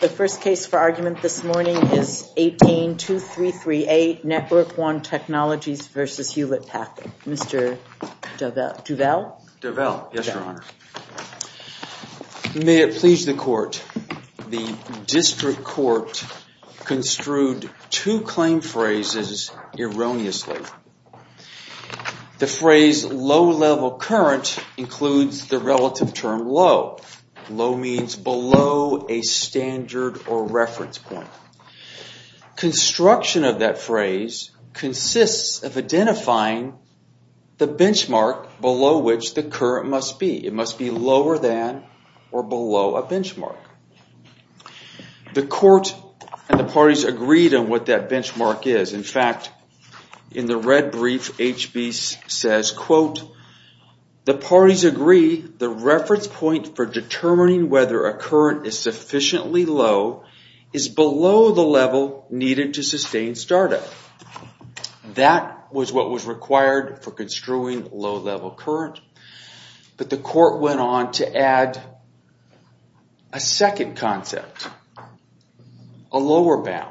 The first case for argument this morning is 18-2338, Network-1 Technologies v. Hewlett-Packard. Mr. Duvall? Duvall, yes, Your Honor. May it please the Court, the District Court construed two claim phrases erroneously. The phrase, low-level current, includes the relative term low. Low means below a standard or reference point. Construction of that phrase consists of identifying the benchmark below which the current must be. It must be lower than or below a benchmark. The Court and the parties agreed on what that benchmark is. In fact, in the red brief, H.B. says, quote, the parties agree the reference point for determining whether a current is sufficiently low is below the level needed to sustain startup. That was what was required for construing low-level current, but the Court went on to add a second concept, a lower bound.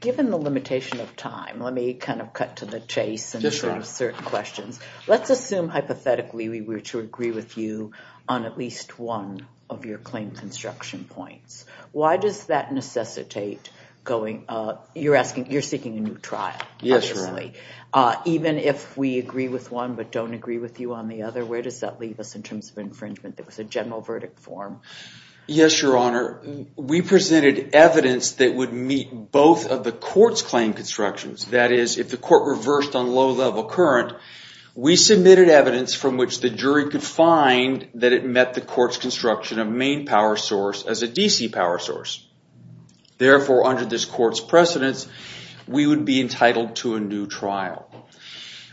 Given the limitation of time, let me kind of cut to the chase and answer certain questions. Let's assume hypothetically we were to agree with you on at least one of your claim construction points. Why does that necessitate going up? You're asking, you're seeking a new trial. Yes, Your Honor. Even if we agree with one but don't agree with you on the other, where does that leave us in terms of infringement? That was a general verdict form. Yes, Your Honor. We presented evidence that would meet both of the Court's claim constructions. That is, if the Court reversed on low-level current, we submitted evidence from which the jury could find that it met the Court's construction of main power source as a D.C. power source. Therefore, under this Court's precedence, we would be entitled to a new trial.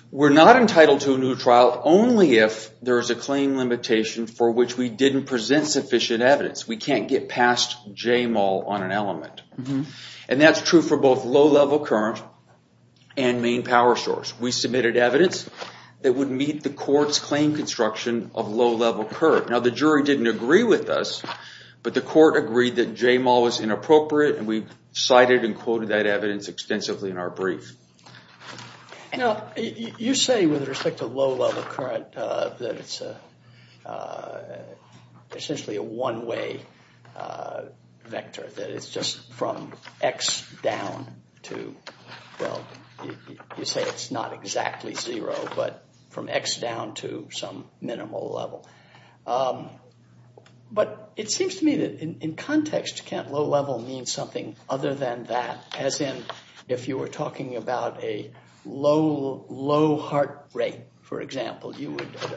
We're not entitled to a new trial only if there is a claim limitation for which we didn't present sufficient evidence. We can't get past J. Mull on an element. And that's true for both low-level current and main power source. We submitted evidence that would meet the Court's claim construction of low-level current. Now, the jury didn't agree with us, but the Court agreed that J. Mull was inappropriate, and we cited and quoted that evidence extensively in our brief. Now, you say with respect to low-level current that it's essentially a one-way vector, that it's just from X down to, well, you say it's not exactly zero, but from X down to some minimal level. But it seems to me that in context, low-level means something other than that, as in if you were talking about a low heart rate, for example,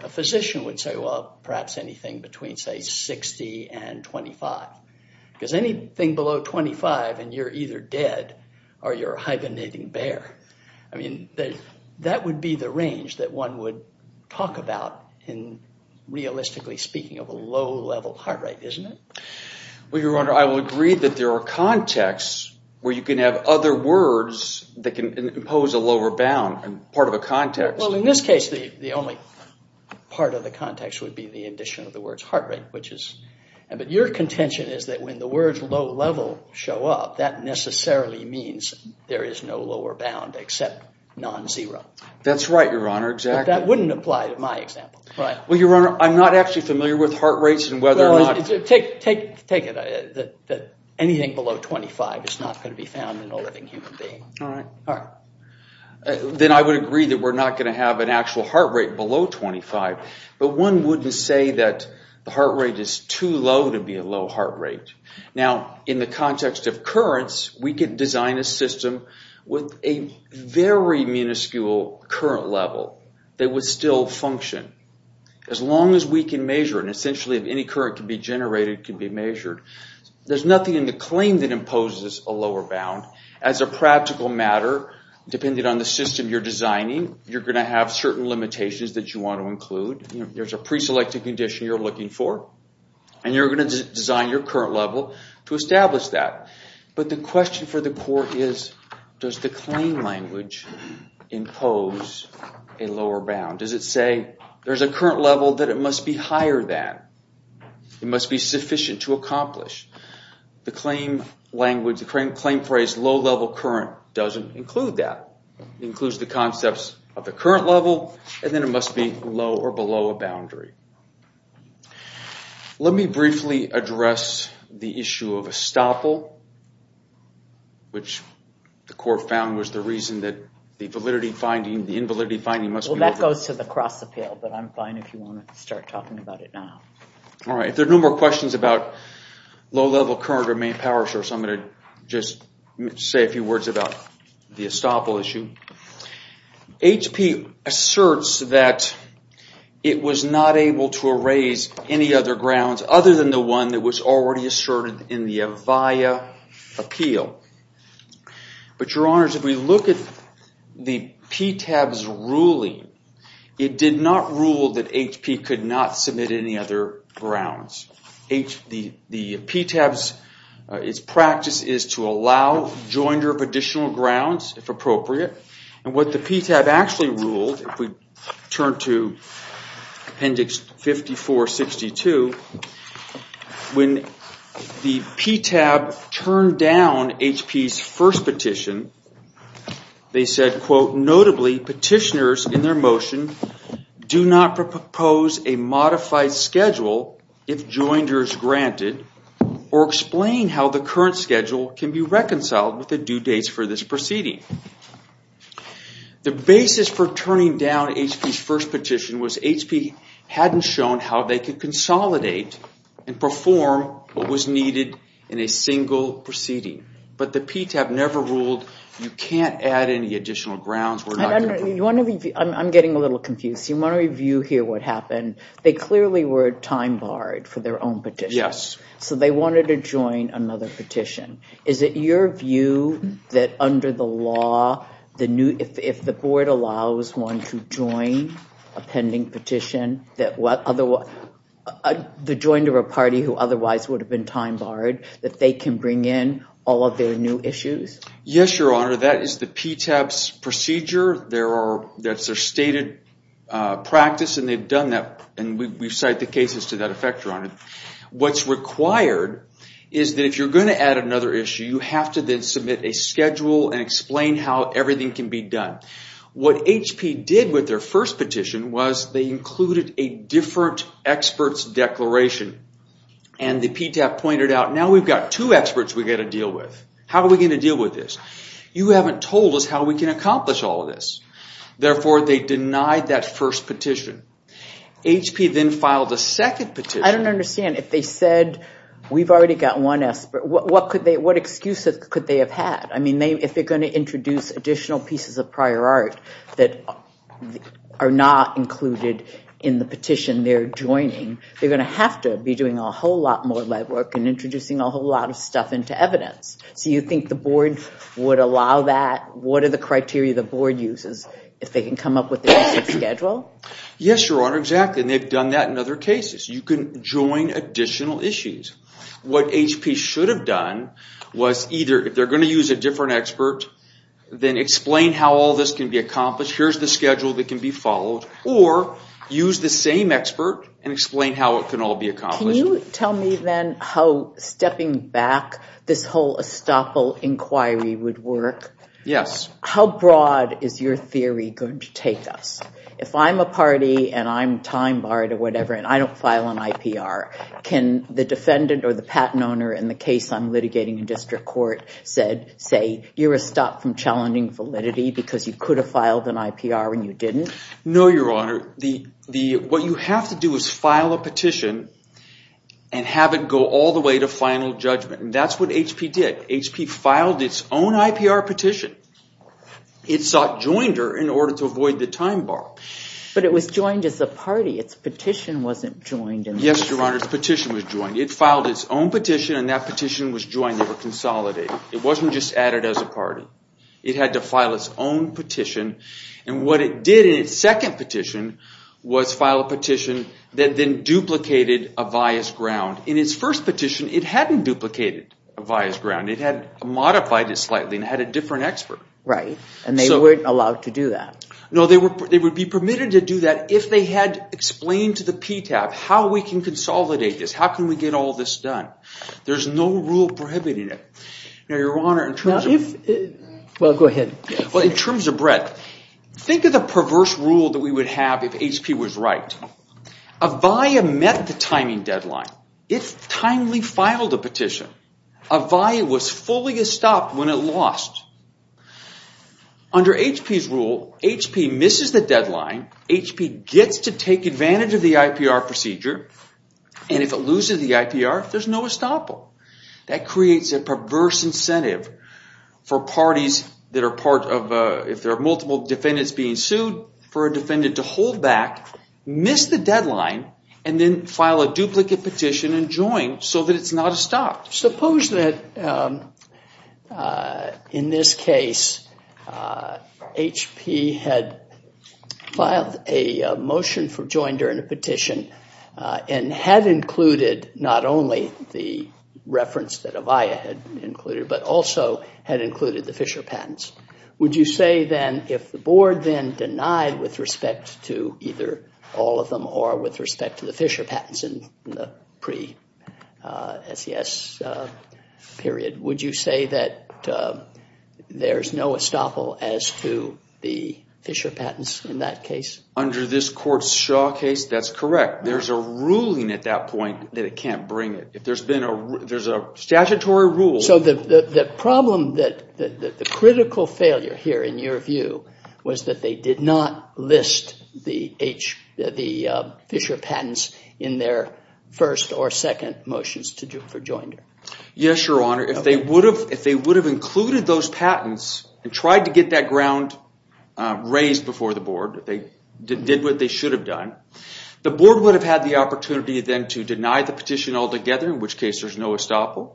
a physician would say, well, perhaps anything between, say, 60 and 25. Because anything below 25 and you're either dead or you're a hibernating bear. I mean, that would be the range that one would talk about in, realistically speaking, of a low-level heart rate, isn't it? Well, Your Honor, I will agree that there are contexts where you can have other words that can impose a lower bound and part of a context. Well, in this case, the only part of the context would be the addition of the words heart rate, which is – but your contention is that when the words low-level show up, that necessarily means there is no lower bound except non-zero. That's right, Your Honor, exactly. But that wouldn't apply to my example. Well, Your Honor, I'm not actually familiar with heart rates and whether or not – Take it that anything below 25 is not going to be found in a living human being. All right. All right. Then I would agree that we're not going to have an actual heart rate below 25. But one wouldn't say that the heart rate is too low to be a low heart rate. Now, in the context of currents, we could design a system with a very minuscule current level that would still function as long as we can measure it. Essentially, if any current can be generated, it can be measured. There's nothing in the claim that imposes a lower bound. As a practical matter, depending on the system you're designing, you're going to have certain limitations that you want to include. There's a preselected condition you're looking for, and you're going to design your current level to establish that. But the question for the court is does the claim language impose a lower bound? Does it say there's a current level that it must be higher than? It must be sufficient to accomplish. The claim phrase low level current doesn't include that. It includes the concepts of the current level, and then it must be low or below a boundary. Let me briefly address the issue of estoppel, which the court found was the reason that the validity finding, the invalidity finding must be over. Well, that goes to the cross appeal, but I'm fine if you want to start talking about it now. If there are no more questions about low level current or main power source, I'm going to just say a few words about the estoppel issue. HP asserts that it was not able to erase any other grounds other than the one that was already asserted in the Avaya appeal. But, Your Honors, if we look at the PTAB's ruling, it did not rule that HP could not submit any other grounds. The PTAB's practice is to allow joinder of additional grounds, if appropriate. And what the PTAB actually ruled, if we turn to appendix 5462, when the PTAB turned down HP's first petition, they said, Notably, petitioners in their motion do not propose a modified schedule if joinder is granted, or explain how the current schedule can be reconciled with the due dates for this proceeding. The basis for turning down HP's first petition was HP hadn't shown how they could consolidate and perform what was needed in a single proceeding. But the PTAB never ruled you can't add any additional grounds. I'm getting a little confused. You want to review here what happened. They clearly were time barred for their own petition. Yes. So they wanted to join another petition. Is it your view that under the law, if the board allows one to join a pending petition, that the joinder or party who otherwise would have been time barred, that they can bring in all of their new issues? Yes, Your Honor. That is the PTAB's procedure. That's their stated practice, and they've done that. And we cite the cases to that effect, Your Honor. What's required is that if you're going to add another issue, you have to then submit a schedule and explain how everything can be done. What HP did with their first petition was they included a different expert's declaration. And the PTAB pointed out, now we've got two experts we've got to deal with. How are we going to deal with this? You haven't told us how we can accomplish all of this. Therefore, they denied that first petition. HP then filed a second petition. I don't understand. If they said we've already got one expert, what excuse could they have had? I mean, if they're going to introduce additional pieces of prior art that are not included in the petition they're joining, they're going to have to be doing a whole lot more legwork and introducing a whole lot of stuff into evidence. So you think the board would allow that? What are the criteria the board uses if they can come up with a schedule? Yes, Your Honor, exactly. And they've done that in other cases. You can join additional issues. What HP should have done was either if they're going to use a different expert, then explain how all this can be accomplished. Here's the schedule that can be followed. Or use the same expert and explain how it can all be accomplished. Can you tell me then how stepping back this whole estoppel inquiry would work? Yes. How broad is your theory going to take us? If I'm a party and I'm time barred or whatever and I don't file an IPR, can the defendant or the patent owner in the case I'm litigating in district court say, you're a stop from challenging validity because you could have filed an IPR and you didn't? No, Your Honor. What you have to do is file a petition and have it go all the way to final judgment. And that's what HP did. HP filed its own IPR petition. It sought joinder in order to avoid the time bar. But it was joined as a party. Its petition wasn't joined. Yes, Your Honor. Its petition was joined. It filed its own petition and that petition was joined. They were consolidated. It wasn't just added as a party. It had to file its own petition. And what it did in its second petition was file a petition that then duplicated a vias ground. In its first petition, it hadn't duplicated a vias ground. It had modified it slightly and had a different expert. Right. And they weren't allowed to do that. No, they would be permitted to do that if they had explained to the PTAB how we can consolidate this, how can we get all this done. There's no rule prohibiting it. Now, Your Honor, in terms of… Well, go ahead. Well, in terms of breadth, think of the perverse rule that we would have if HP was right. A via met the timing deadline. It timely filed a petition. A via was fully stopped when it lost. Under HP's rule, HP misses the deadline. HP gets to take advantage of the IPR procedure. And if it loses the IPR, there's no estoppel. That creates a perverse incentive for parties that are part of… if there are multiple defendants being sued, for a defendant to hold back, miss the deadline, and then file a duplicate petition and join so that it's not stopped. Suppose that, in this case, HP had filed a motion for join during a petition and had included not only the reference that a via had included, but also had included the Fisher patents. Would you say then if the board then denied with respect to either all of them or with respect to the Fisher patents in the pre-SES period, would you say that there's no estoppel as to the Fisher patents in that case? Under this court's Shaw case, that's correct. There's a ruling at that point that it can't bring it. If there's been a… there's a statutory rule… The problem, the critical failure here, in your view, was that they did not list the Fisher patents in their first or second motions for join. Yes, Your Honor. If they would have included those patents and tried to get that ground raised before the board, if they did what they should have done, the board would have had the opportunity then to deny the petition altogether, in which case there's no estoppel,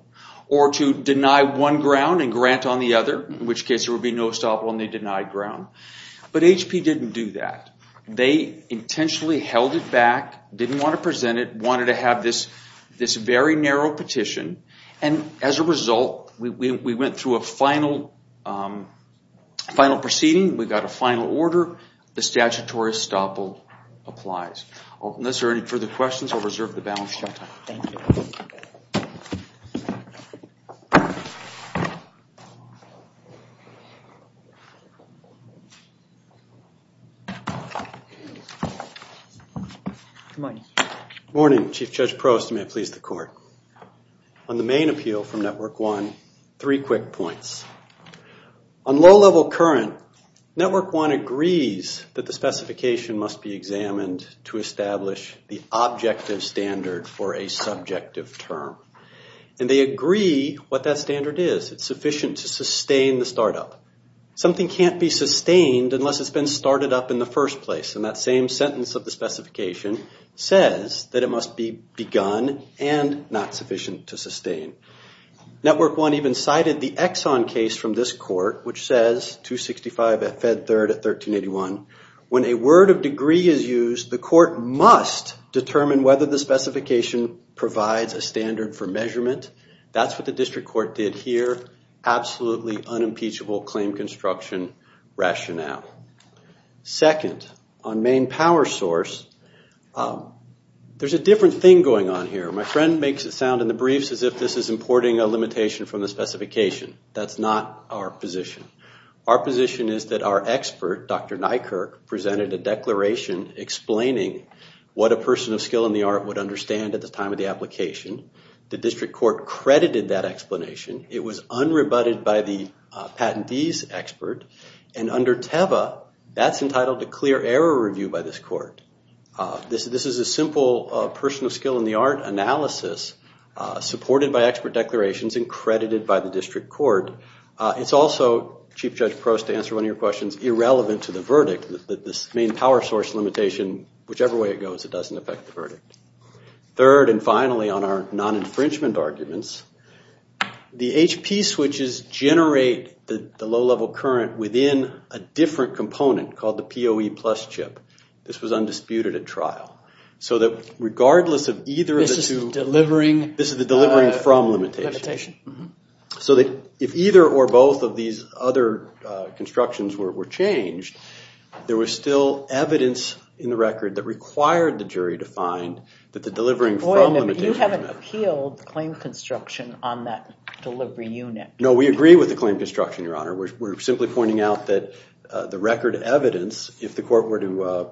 or to deny one ground and grant on the other, in which case there would be no estoppel and they denied ground. But HP didn't do that. They intentionally held it back, didn't want to present it, wanted to have this very narrow petition, and as a result we went through a final proceeding. We got a final order. The statutory estoppel applies. Unless there are any further questions, I'll reserve the balance sheet. Thank you. Good morning. Good morning, Chief Judge Prost, and may it please the Court. On the main appeal from Network One, three quick points. On low-level current, Network One agrees that the specification must be examined to establish the objective standard for a subjective term. And they agree what that standard is. It's sufficient to sustain the startup. Something can't be sustained unless it's been started up in the first place, and that same sentence of the specification says that it must be begun and not sufficient to sustain. Network One even cited the Exxon case from this court, which says, 265 at Fed Third at 1381, when a word of degree is used, the court must determine whether the specification provides a standard for measurement. That's what the district court did here. Absolutely unimpeachable claim construction rationale. Second, on main power source, there's a different thing going on here. My friend makes it sound in the briefs as if this is importing a limitation from the specification. That's not our position. Our position is that our expert, Dr. Nykerk, presented a declaration explaining what a person of skill in the art would understand at the time of the application. The district court credited that explanation. It was unrebutted by the patentee's expert. And under TEVA, that's entitled to clear error review by this court. This is a simple person of skill in the art analysis supported by expert declarations and credited by the district court. It's also, Chief Judge Prost, to answer one of your questions, irrelevant to the verdict that this main power source limitation, whichever way it goes, it doesn't affect the verdict. Third and finally on our non-infringement arguments, the HP switches generate the low-level current within a different component called the PoE plus chip. This was undisputed at trial. So that regardless of either of the two, this is the delivering from limitation. So if either or both of these other constructions were changed, there was still evidence in the record that required the jury to find that the delivering from limitation. You haven't appealed the claim construction on that delivery unit. No, we agree with the claim construction, Your Honor. We're simply pointing out that the record evidence, if the court were to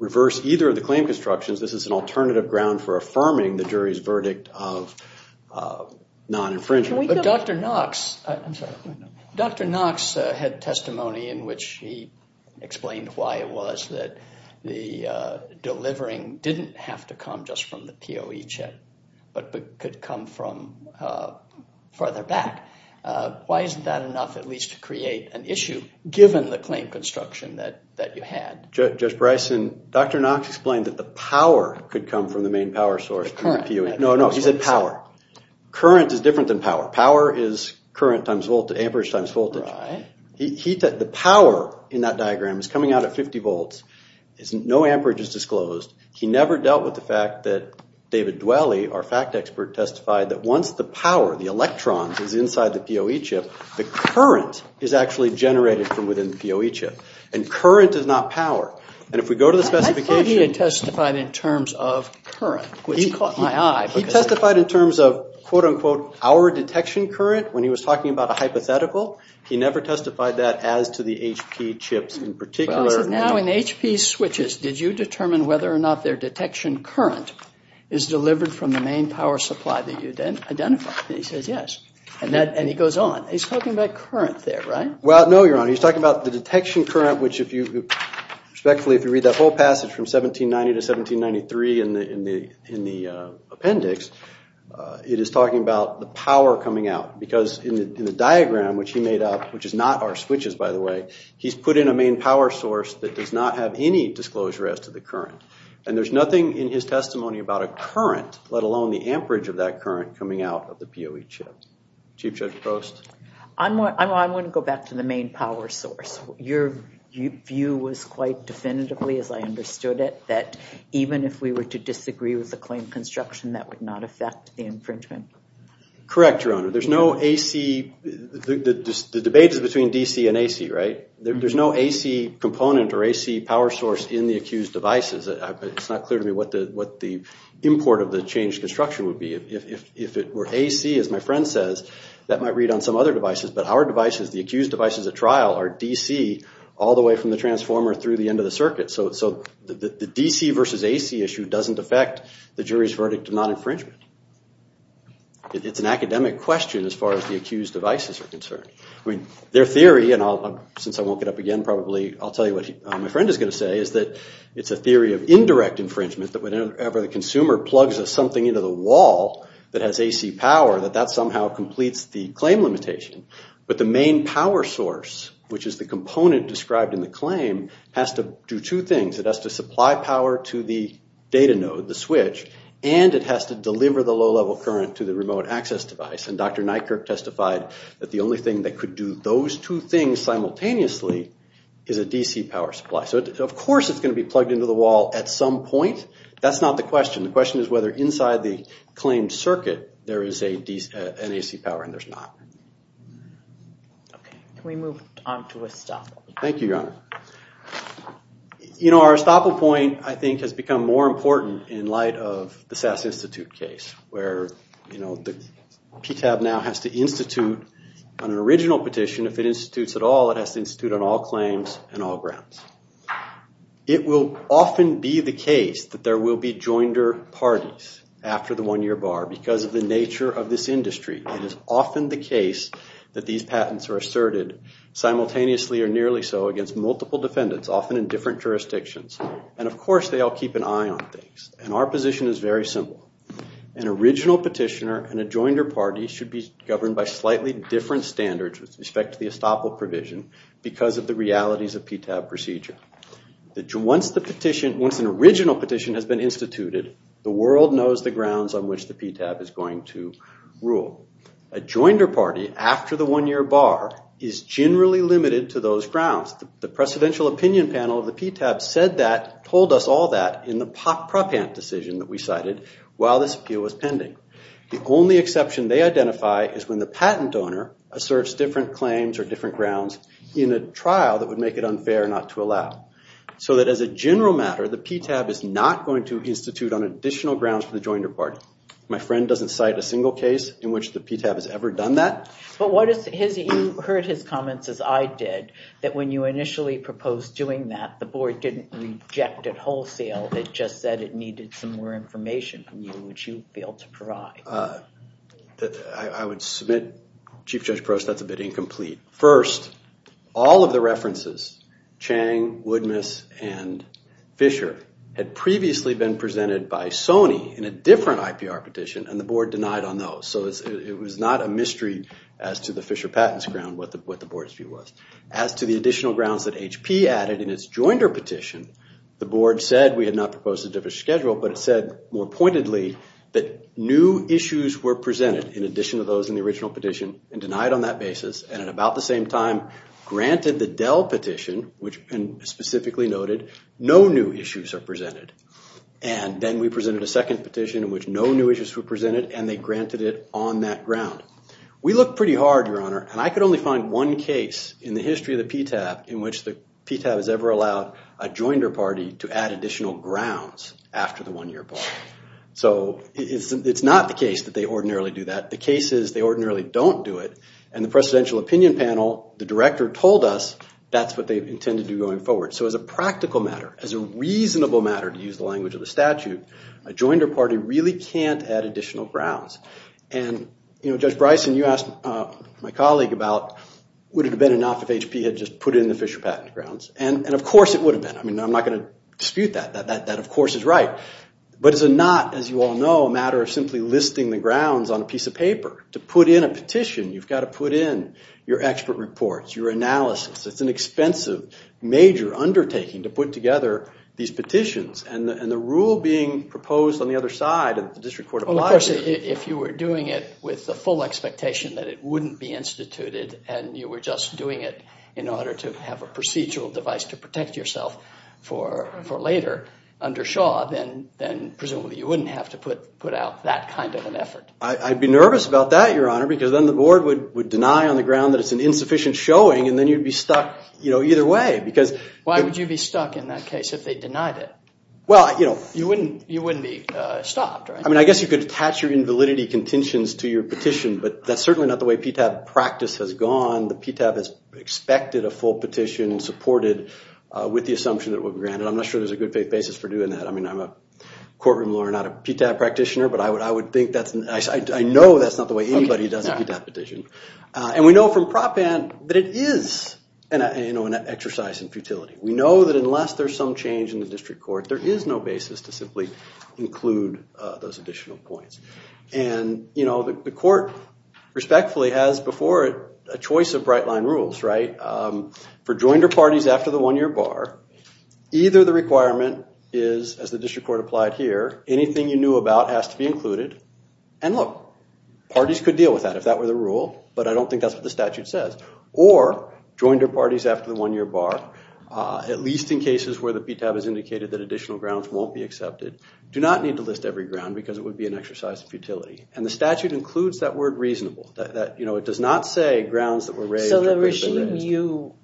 reverse either of the claim constructions, this is an alternative ground for affirming the jury's verdict of non-infringement. But Dr. Knox had testimony in which he explained why it was that the delivering didn't have to come just from the PoE chip, but could come from further back. Why isn't that enough at least to create an issue, given the claim construction that you had? Judge Bryson, Dr. Knox explained that the power could come from the main power source. The current. No, no, he said power. Current is different than power. Power is current times voltage, amperage times voltage. Right. The power in that diagram is coming out at 50 volts. No amperage is disclosed. He never dealt with the fact that David Dwelley, our fact expert, testified that once the power, the electrons, is inside the PoE chip, the current is actually generated from within the PoE chip. And current is not power. And if we go to the specification. I thought he had testified in terms of current, which caught my eye. He testified in terms of, quote, unquote, our detection current when he was talking about a hypothetical. He never testified that as to the HP chips in particular. Now in HP switches, did you determine whether or not their detection current is delivered from the main power supply that you identified? And he says yes. And he goes on. He's talking about current there, right? Well, no, Your Honor. He's talking about the detection current, which if you, respectfully, if you read that whole passage from 1790 to 1793 in the appendix, it is talking about the power coming out. Because in the diagram, which he made up, which is not our switches, by the way, he's put in a main power source that does not have any disclosure as to the current. And there's nothing in his testimony about a current, let alone the amperage of that current, coming out of the PoE chip. Chief Judge Prost? I'm going to go back to the main power source. Your view was quite definitively, as I understood it, that even if we were to disagree with the claim construction, that would not affect the infringement. Correct, Your Honor. There's no AC. The debate is between DC and AC, right? There's no AC component or AC power source in the accused devices. It's not clear to me what the import of the changed construction would be. If it were AC, as my friend says, that might read on some other devices. But our devices, the accused devices at trial, are DC all the way from the transformer through the end of the circuit. So the DC versus AC issue doesn't affect the jury's verdict of non-infringement. It's an academic question as far as the accused devices are concerned. Their theory, and since I won't get up again, probably I'll tell you what my friend is going to say, is that it's a theory of indirect infringement that whenever the consumer plugs something into the wall that has AC power, that that somehow completes the claim limitation. But the main power source, which is the component described in the claim, has to do two things. It has to supply power to the data node, the switch, and it has to deliver the low-level current to the remote access device. And Dr. Nykerk testified that the only thing that could do those two things simultaneously is a DC power supply. So of course it's going to be plugged into the wall at some point. That's not the question. The question is whether inside the claimed circuit there is an AC power and there's not. Okay. Can we move on to estoppel? Thank you, Your Honor. You know, our estoppel point, I think, has become more important in light of the SAS Institute case, where the PCAB now has to institute on an original petition, if it institutes at all, it has to institute on all claims and all grounds. It will often be the case that there will be joinder parties after the one-year bar because of the nature of this industry. It is often the case that these patents are asserted simultaneously or nearly so against multiple defendants, often in different jurisdictions. And of course they all keep an eye on things. And our position is very simple. An original petitioner and a joinder party should be governed by slightly different standards with respect to the estoppel provision because of the realities of PTAB procedure. Once an original petition has been instituted, the world knows the grounds on which the PTAB is going to rule. A joinder party after the one-year bar is generally limited to those grounds. The precedential opinion panel of the PTAB said that, told us all that, in the Propant decision that we cited while this appeal was pending. The only exception they identify is when the patent owner asserts different claims or different grounds in a trial that would make it unfair not to allow. So that as a general matter, the PTAB is not going to institute on additional grounds for the joinder party. My friend doesn't cite a single case in which the PTAB has ever done that. But you heard his comments as I did, that when you initially proposed doing that, the board didn't reject it wholesale. It just said it needed some more information from you, which you failed to provide. I would submit, Chief Judge Paros, that's a bit incomplete. First, all of the references, Chang, Woodmiss, and Fisher, had previously been presented by Sony in a different IPR petition, and the board denied on those. So it was not a mystery as to the Fisher patents ground, what the board's view was. As to the additional grounds that HP added in its joinder petition, the board said we had not proposed a different schedule, but it said more pointedly that new issues were presented in addition to those in the original petition, and denied on that basis, and at about the same time, granted the Dell petition, which specifically noted no new issues are presented. And then we presented a second petition in which no new issues were presented, and they granted it on that ground. We looked pretty hard, Your Honor, and I could only find one case in the history of the PTAB in which the PTAB has ever allowed a joinder party to add additional grounds after the one-year part. So it's not the case that they ordinarily do that. The case is they ordinarily don't do it, and the presidential opinion panel, the director told us that's what they intended to do going forward. So as a practical matter, as a reasonable matter, to use the language of the statute, a joinder party really can't add additional grounds. And, you know, Judge Bryson, you asked my colleague about would it have been enough if HP had just put in the Fisher patent grounds, and of course it would have been. I mean, I'm not going to dispute that. That, of course, is right. But it's not, as you all know, a matter of simply listing the grounds on a piece of paper. To put in a petition, you've got to put in your expert reports, your analysis. It's an expensive, major undertaking to put together these petitions, Of course, if you were doing it with the full expectation that it wouldn't be instituted and you were just doing it in order to have a procedural device to protect yourself for later under Shaw, then presumably you wouldn't have to put out that kind of an effort. I'd be nervous about that, Your Honor, because then the board would deny on the ground that it's an insufficient showing, and then you'd be stuck either way. Why would you be stuck in that case if they denied it? You wouldn't be stopped, right? I mean, I guess you could attach your invalidity contentions to your petition, but that's certainly not the way PTAB practice has gone. The PTAB has expected a full petition and supported with the assumption that it would be granted. I'm not sure there's a good faith basis for doing that. I mean, I'm a courtroom lawyer, not a PTAB practitioner, but I know that's not the way anybody does a PTAB petition. And we know from Prop Ant that it is an exercise in futility. We know that unless there's some change in the district court, there is no basis to simply include those additional points. And, you know, the court respectfully has before it a choice of bright-line rules, right? For joined or parties after the one-year bar, either the requirement is, as the district court applied here, anything you knew about has to be included. And look, parties could deal with that if that were the rule, but I don't think that's what the statute says. Or joined or parties after the one-year bar, at least in cases where the PTAB has indicated that additional grounds won't be accepted, do not need to list every ground because it would be an exercise in futility. And the statute includes that word reasonable. That, you know, it does not say grounds that were raised. So the regime you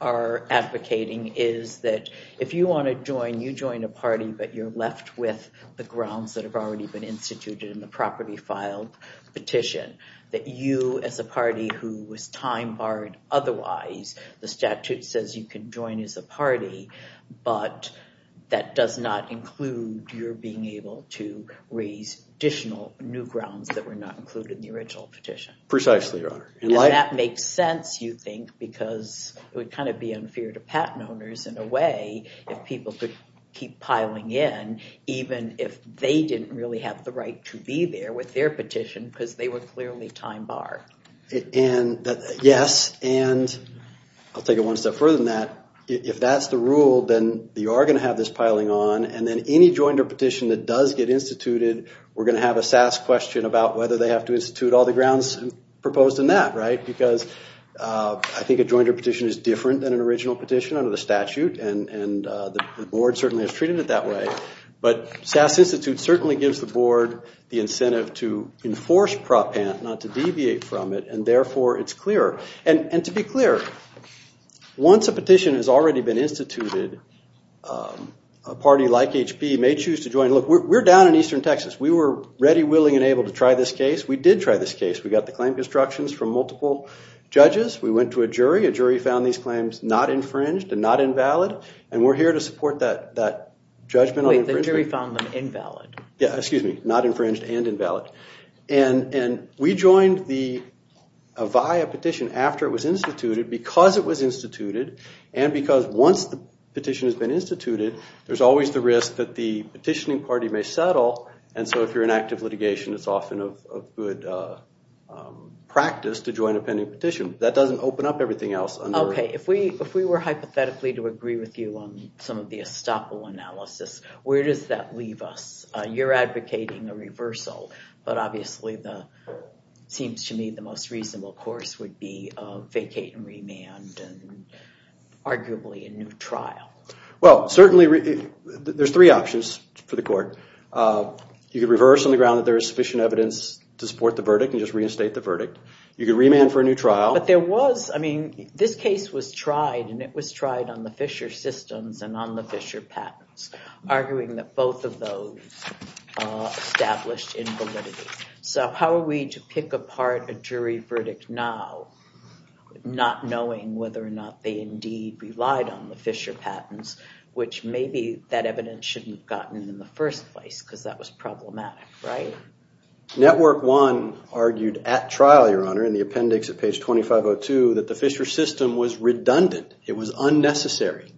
are advocating is that if you want to join, you join a party, but you're left with the grounds that have already been instituted in the property filed petition, that you, as a party who was time-barred otherwise, the statute says you can join as a party, but that does not include your being able to raise additional new grounds that were not included in the original petition. Precisely, Your Honor. And that makes sense, you think, because it would kind of be unfair to patent owners, in a way, if people could keep piling in, even if they didn't really have the right to be there with their petition because they were clearly time-barred. Yes, and I'll take it one step further than that. If that's the rule, then you are going to have this piling on, and then any joinder petition that does get instituted, we're going to have a SAS question about whether they have to institute all the grounds proposed in that, right? Because I think a joinder petition is different than an original petition under the statute, and the board certainly has treated it that way. But SAS Institute certainly gives the board the incentive to enforce propant, not to deviate from it, and therefore it's clearer. And to be clear, once a petition has already been instituted, a party like HP may choose to join. Look, we're down in eastern Texas. We were ready, willing, and able to try this case. We did try this case. We got the claim constructions from multiple judges. We went to a jury. A jury found these claims not infringed and not invalid, and we're here to support that judgment on infringement. Wait, the jury found them invalid. Yeah, excuse me, not infringed and invalid. And we joined the Avaya petition after it was instituted because it was instituted, and because once the petition has been instituted, there's always the risk that the petitioning party may settle, and so if you're in active litigation, it's often a good practice to join a pending petition. That doesn't open up everything else under the rule. Okay, if we were hypothetically to agree with you on some of the estoppel analysis, where does that leave us? You're advocating a reversal, but obviously it seems to me the most reasonable course would be a vacate and remand and arguably a new trial. Well, certainly there's three options for the court. You could reverse on the ground that there is sufficient evidence to support the verdict and just reinstate the verdict. You could remand for a new trial. But there was, I mean, this case was tried, and it was tried on the Fisher systems and on the Fisher patents, arguing that both of those established invalidity. So how are we to pick apart a jury verdict now, not knowing whether or not they indeed relied on the Fisher patents, which maybe that evidence shouldn't have gotten in the first place because that was problematic, right? Network One argued at trial, Your Honor, in the appendix at page 2502, that the Fisher system was redundant. It was unnecessary,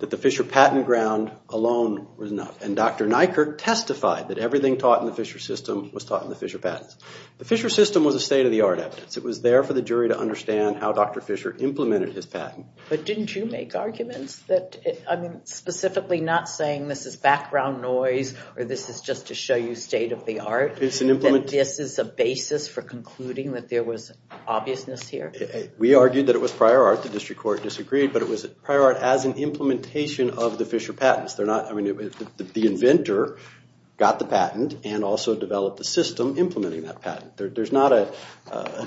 that the Fisher patent ground alone was enough. And Dr. Nykerk testified that everything taught in the Fisher system was taught in the Fisher patents. The Fisher system was a state-of-the-art evidence. It was there for the jury to understand how Dr. Fisher implemented his patent. But didn't you make arguments that, I mean, specifically not saying this is background noise or this is just to show you state-of-the-art, that this is a basis for concluding that there was obviousness here? We argued that it was prior art. The district court disagreed, but it was prior art as an implementation of the Fisher patents. I mean, the inventor got the patent and also developed the system implementing that patent. There's not a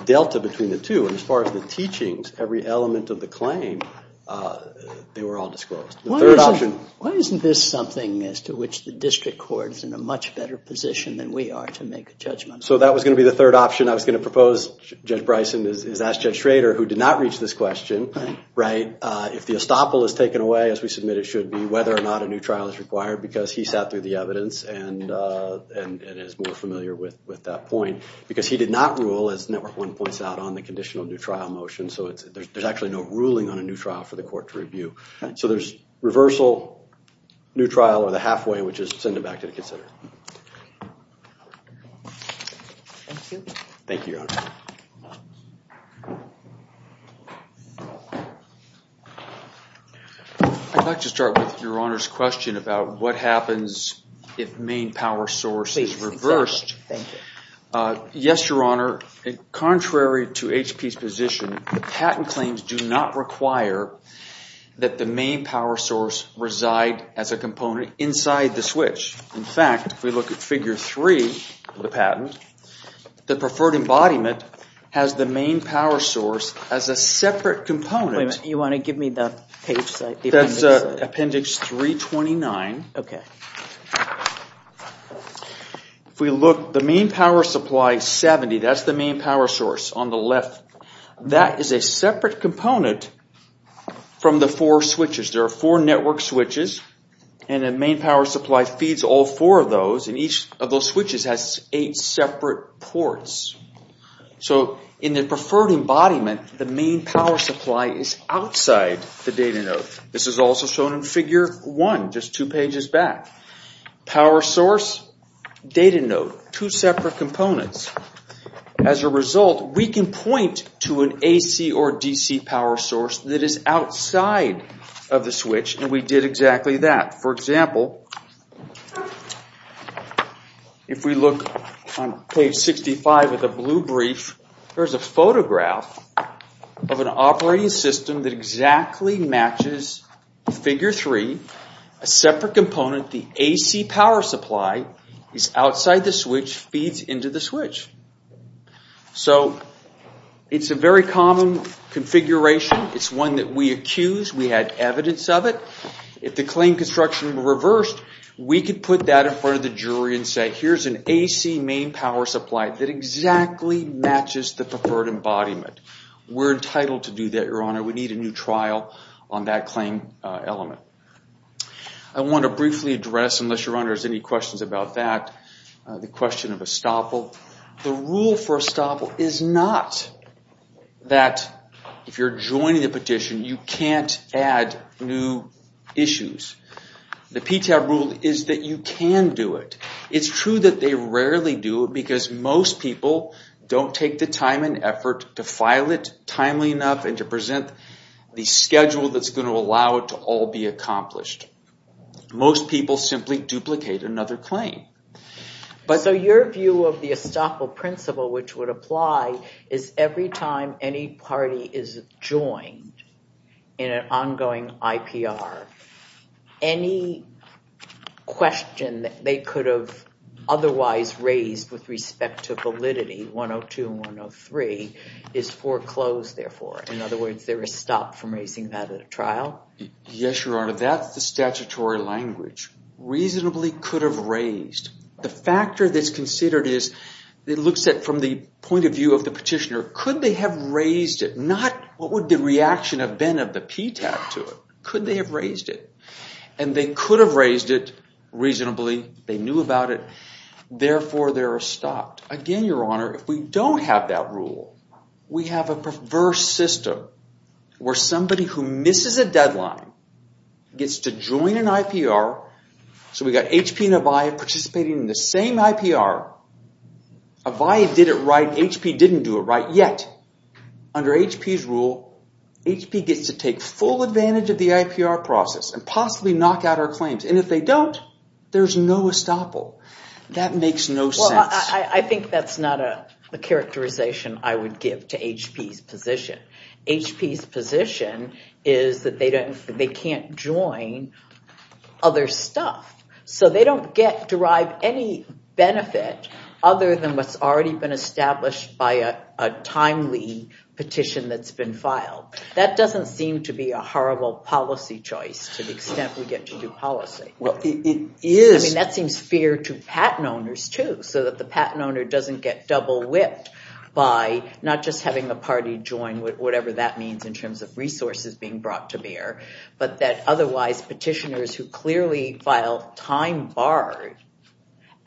delta between the two. And as far as the teachings, every element of the claim, they were all disclosed. Why isn't this something as to which the district court is in a much better position than we are to make a judgment? So that was going to be the third option I was going to propose. Judge Bryson has asked Judge Schrader, who did not reach this question, if the estoppel is taken away, as we submit it should be, whether or not a new trial is required, because he sat through the evidence and is more familiar with that point. Because he did not rule, as Network One points out, on the conditional new trial motion. So there's actually no ruling on a new trial for the court to review. So there's reversal, new trial, or the halfway, which is to send it back to the consider. Thank you. Thank you, Your Honor. I'd like to start with Your Honor's question about what happens if main power source is reversed. Yes, Your Honor, contrary to HP's position, patent claims do not require that the main power source reside as a component inside the switch. In fact, if we look at Figure 3 of the patent, the preferred embodiment has the main power source as a separate component. You want to give me the page? That's Appendix 329. Okay. If we look, the main power supply is 70. That's the main power source on the left. That is a separate component from the four switches. There are four network switches, and the main power supply feeds all four of those, and each of those switches has eight separate ports. So in the preferred embodiment, the main power supply is outside the data node. This is also shown in Figure 1, just two pages back. Power source, data node, two separate components. As a result, we can point to an AC or DC power source that is outside of the switch, and we did exactly that. For example, if we look on page 65 of the blue brief, there's a photograph of an operating system that exactly matches Figure 3, a separate component, the AC power supply, is outside the switch, feeds into the switch. So it's a very common configuration. It's one that we accused. We had evidence of it. If the claim construction were reversed, we could put that in front of the jury and say, here's an AC main power supply that exactly matches the preferred embodiment. We're entitled to do that, Your Honor. We need a new trial on that claim element. I want to briefly address, unless Your Honor has any questions about that, the question of estoppel. The rule for estoppel is not that if you're joining the petition, you can't add new issues. The PTAB rule is that you can do it. It's true that they rarely do it, because most people don't take the time and effort to file it timely enough and to present the schedule that's going to allow it to all be accomplished. Most people simply duplicate another claim. So your view of the estoppel principle, which would apply, is every time any party is joined in an ongoing IPR, any question that they could have otherwise raised with respect to validity, 102 and 103, is foreclosed, therefore. In other words, there is stop from raising that at a trial? Yes, Your Honor. That's the statutory language. Reasonably could have raised. The factor that's considered is, it looks at from the point of view of the petitioner, could they have raised it? Not what would the reaction have been of the PTAB to it. Could they have raised it? And they could have raised it reasonably. They knew about it. Therefore, they're stopped. Again, Your Honor, if we don't have that rule, we have a perverse system where somebody who misses a deadline gets to join an IPR. So we've got HP and Avaya participating in the same IPR. Avaya did it right. HP didn't do it right. Yet, under HP's rule, HP gets to take full advantage of the IPR process and possibly knock out our claims. And if they don't, there's no estoppel. That makes no sense. I think that's not a characterization I would give to HP's position. HP's position is that they can't join other stuff. So they don't derive any benefit other than what's already been established by a timely petition that's been filed. That doesn't seem to be a horrible policy choice to the extent we get to do policy. I mean, that seems fair to patent owners, too, so that the patent owner doesn't get double-whipped by not just having the party join whatever that means in terms of resources being brought to bear, but that otherwise petitioners who clearly file time-barred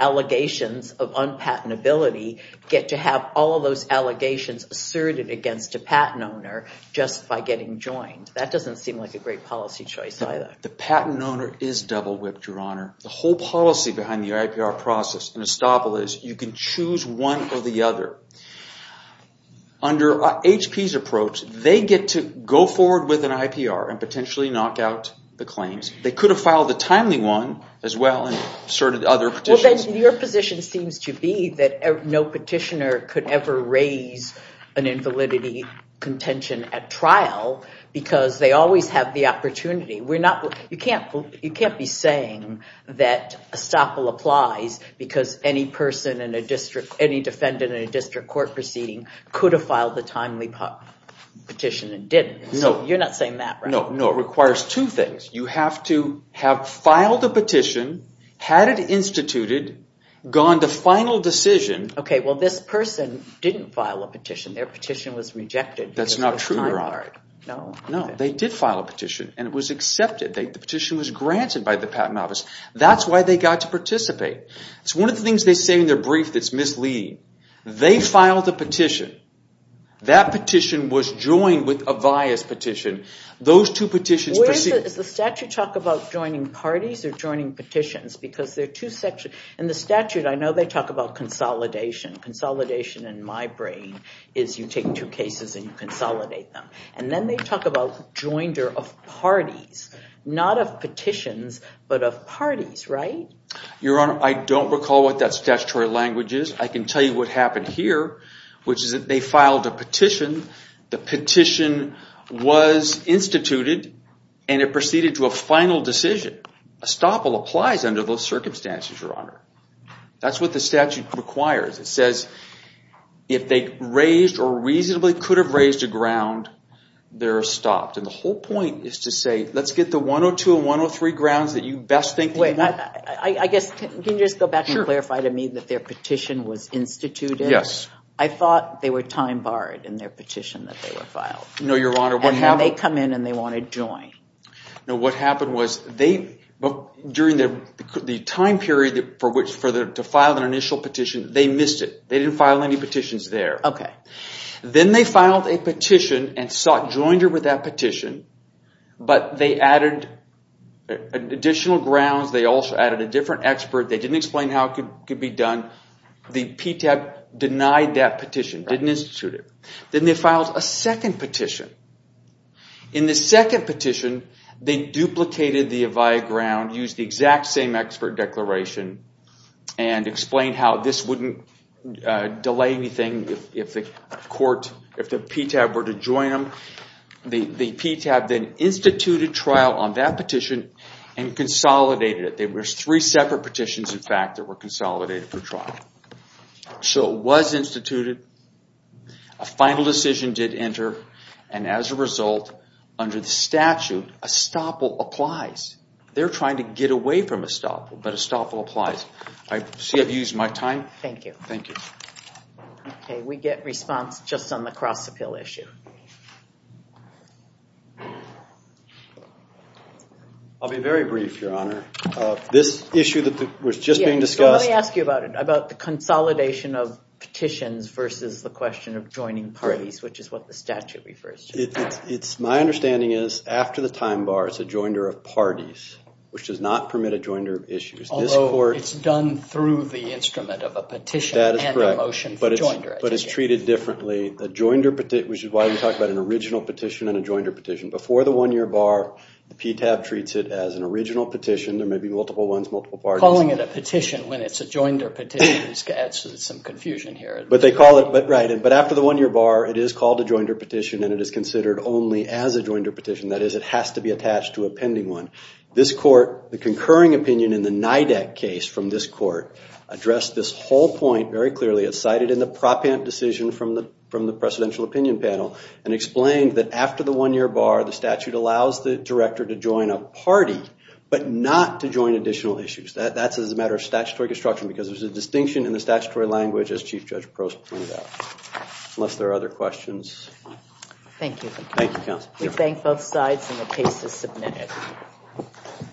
allegations of unpatentability get to have all of those allegations asserted against a patent owner just by getting joined. That doesn't seem like a great policy choice, either. The patent owner is double-whipped, Your Honor. The whole policy behind the IPR process and estoppel is you can choose one or the other. Under HP's approach, they get to go forward with an IPR and potentially knock out the claims. They could have filed a timely one as well and asserted other petitions. Your position seems to be that no petitioner could ever raise an invalidity contention at trial because they always have the opportunity. You can't be saying that estoppel applies because any defendant in a district court proceeding could have filed the timely petition and didn't. No. You're not saying that, right? No, it requires two things. You have to have filed a petition, had it instituted, gone to final decision. Okay, well, this person didn't file a petition. Their petition was rejected because it was time-barred. That's not true, Your Honor. No? No, they did file a petition, and it was accepted. The petition was granted by the patent office. That's why they got to participate. It's one of the things they say in their brief that's misleading. They filed a petition. That petition was joined with a bias petition. Those two petitions proceed. Where is it? Does the statute talk about joining parties or joining petitions? Because they're two sections. In the statute, I know they talk about consolidation. Consolidation in my brain is you take two cases and you consolidate them. And then they talk about joinder of parties, not of petitions, but of parties, right? Your Honor, I don't recall what that statutory language is. I can tell you what happened here, which is that they filed a petition. The petition was instituted, and it proceeded to a final decision. A stopple applies under those circumstances, Your Honor. That's what the statute requires. It says if they raised or reasonably could have raised a ground, they're stopped. And the whole point is to say, let's get the 102 and 103 grounds that you best think Wait, I guess, can you just go back and clarify to me that their petition was instituted? Yes. I thought they were time barred in their petition that they were filed. No, Your Honor. And then they come in and they want to join. No, what happened was during the time period to file their initial petition, they missed it. They didn't file any petitions there. Okay. Then they filed a petition and joined her with that petition, but they added additional grounds. They also added a different expert. They didn't explain how it could be done. The PTAB denied that petition, didn't institute it. Then they filed a second petition. In the second petition, they duplicated the Avaya ground, used the exact same expert declaration, and explained how this wouldn't delay anything if the PTAB were to join them. The PTAB then instituted trial on that petition and consolidated it. There were three separate petitions, in fact, that were consolidated for trial. So it was instituted. A final decision did enter, and as a result, under the statute, estoppel applies. They're trying to get away from estoppel, but estoppel applies. I see I've used my time. Thank you. Thank you. Okay, we get response just on the cross-appeal issue. I'll be very brief, Your Honor. This issue that was just being discussed. Yeah, so let me ask you about it, about the consolidation of petitions versus the question of joining parties, which is what the statute refers to. My understanding is, after the time bar, it's a joinder of parties, which does not permit a joinder of issues. Although it's done through the instrument of a petition and a motion for joinderization. That is correct, but it's treated differently. Which is why we talk about an original petition and a joinder petition. Before the one-year bar, the PTAB treats it as an original petition. There may be multiple ones, multiple parties. Calling it a petition when it's a joinder petition adds some confusion here. But they call it, right. But after the one-year bar, it is called a joinder petition, and it is considered only as a joinder petition. That is, it has to be attached to a pending one. This court, the concurring opinion in the NIDAC case from this court, addressed this whole point very clearly. It cited in the propant decision from the presidential opinion panel and explained that after the one-year bar, the statute allows the director to join a party, but not to join additional issues. That's as a matter of statutory construction because there's a distinction in the statutory language as Chief Judge Prost pointed out. Unless there are other questions. Thank you. Thank you, counsel. We thank both sides, and the case is submitted.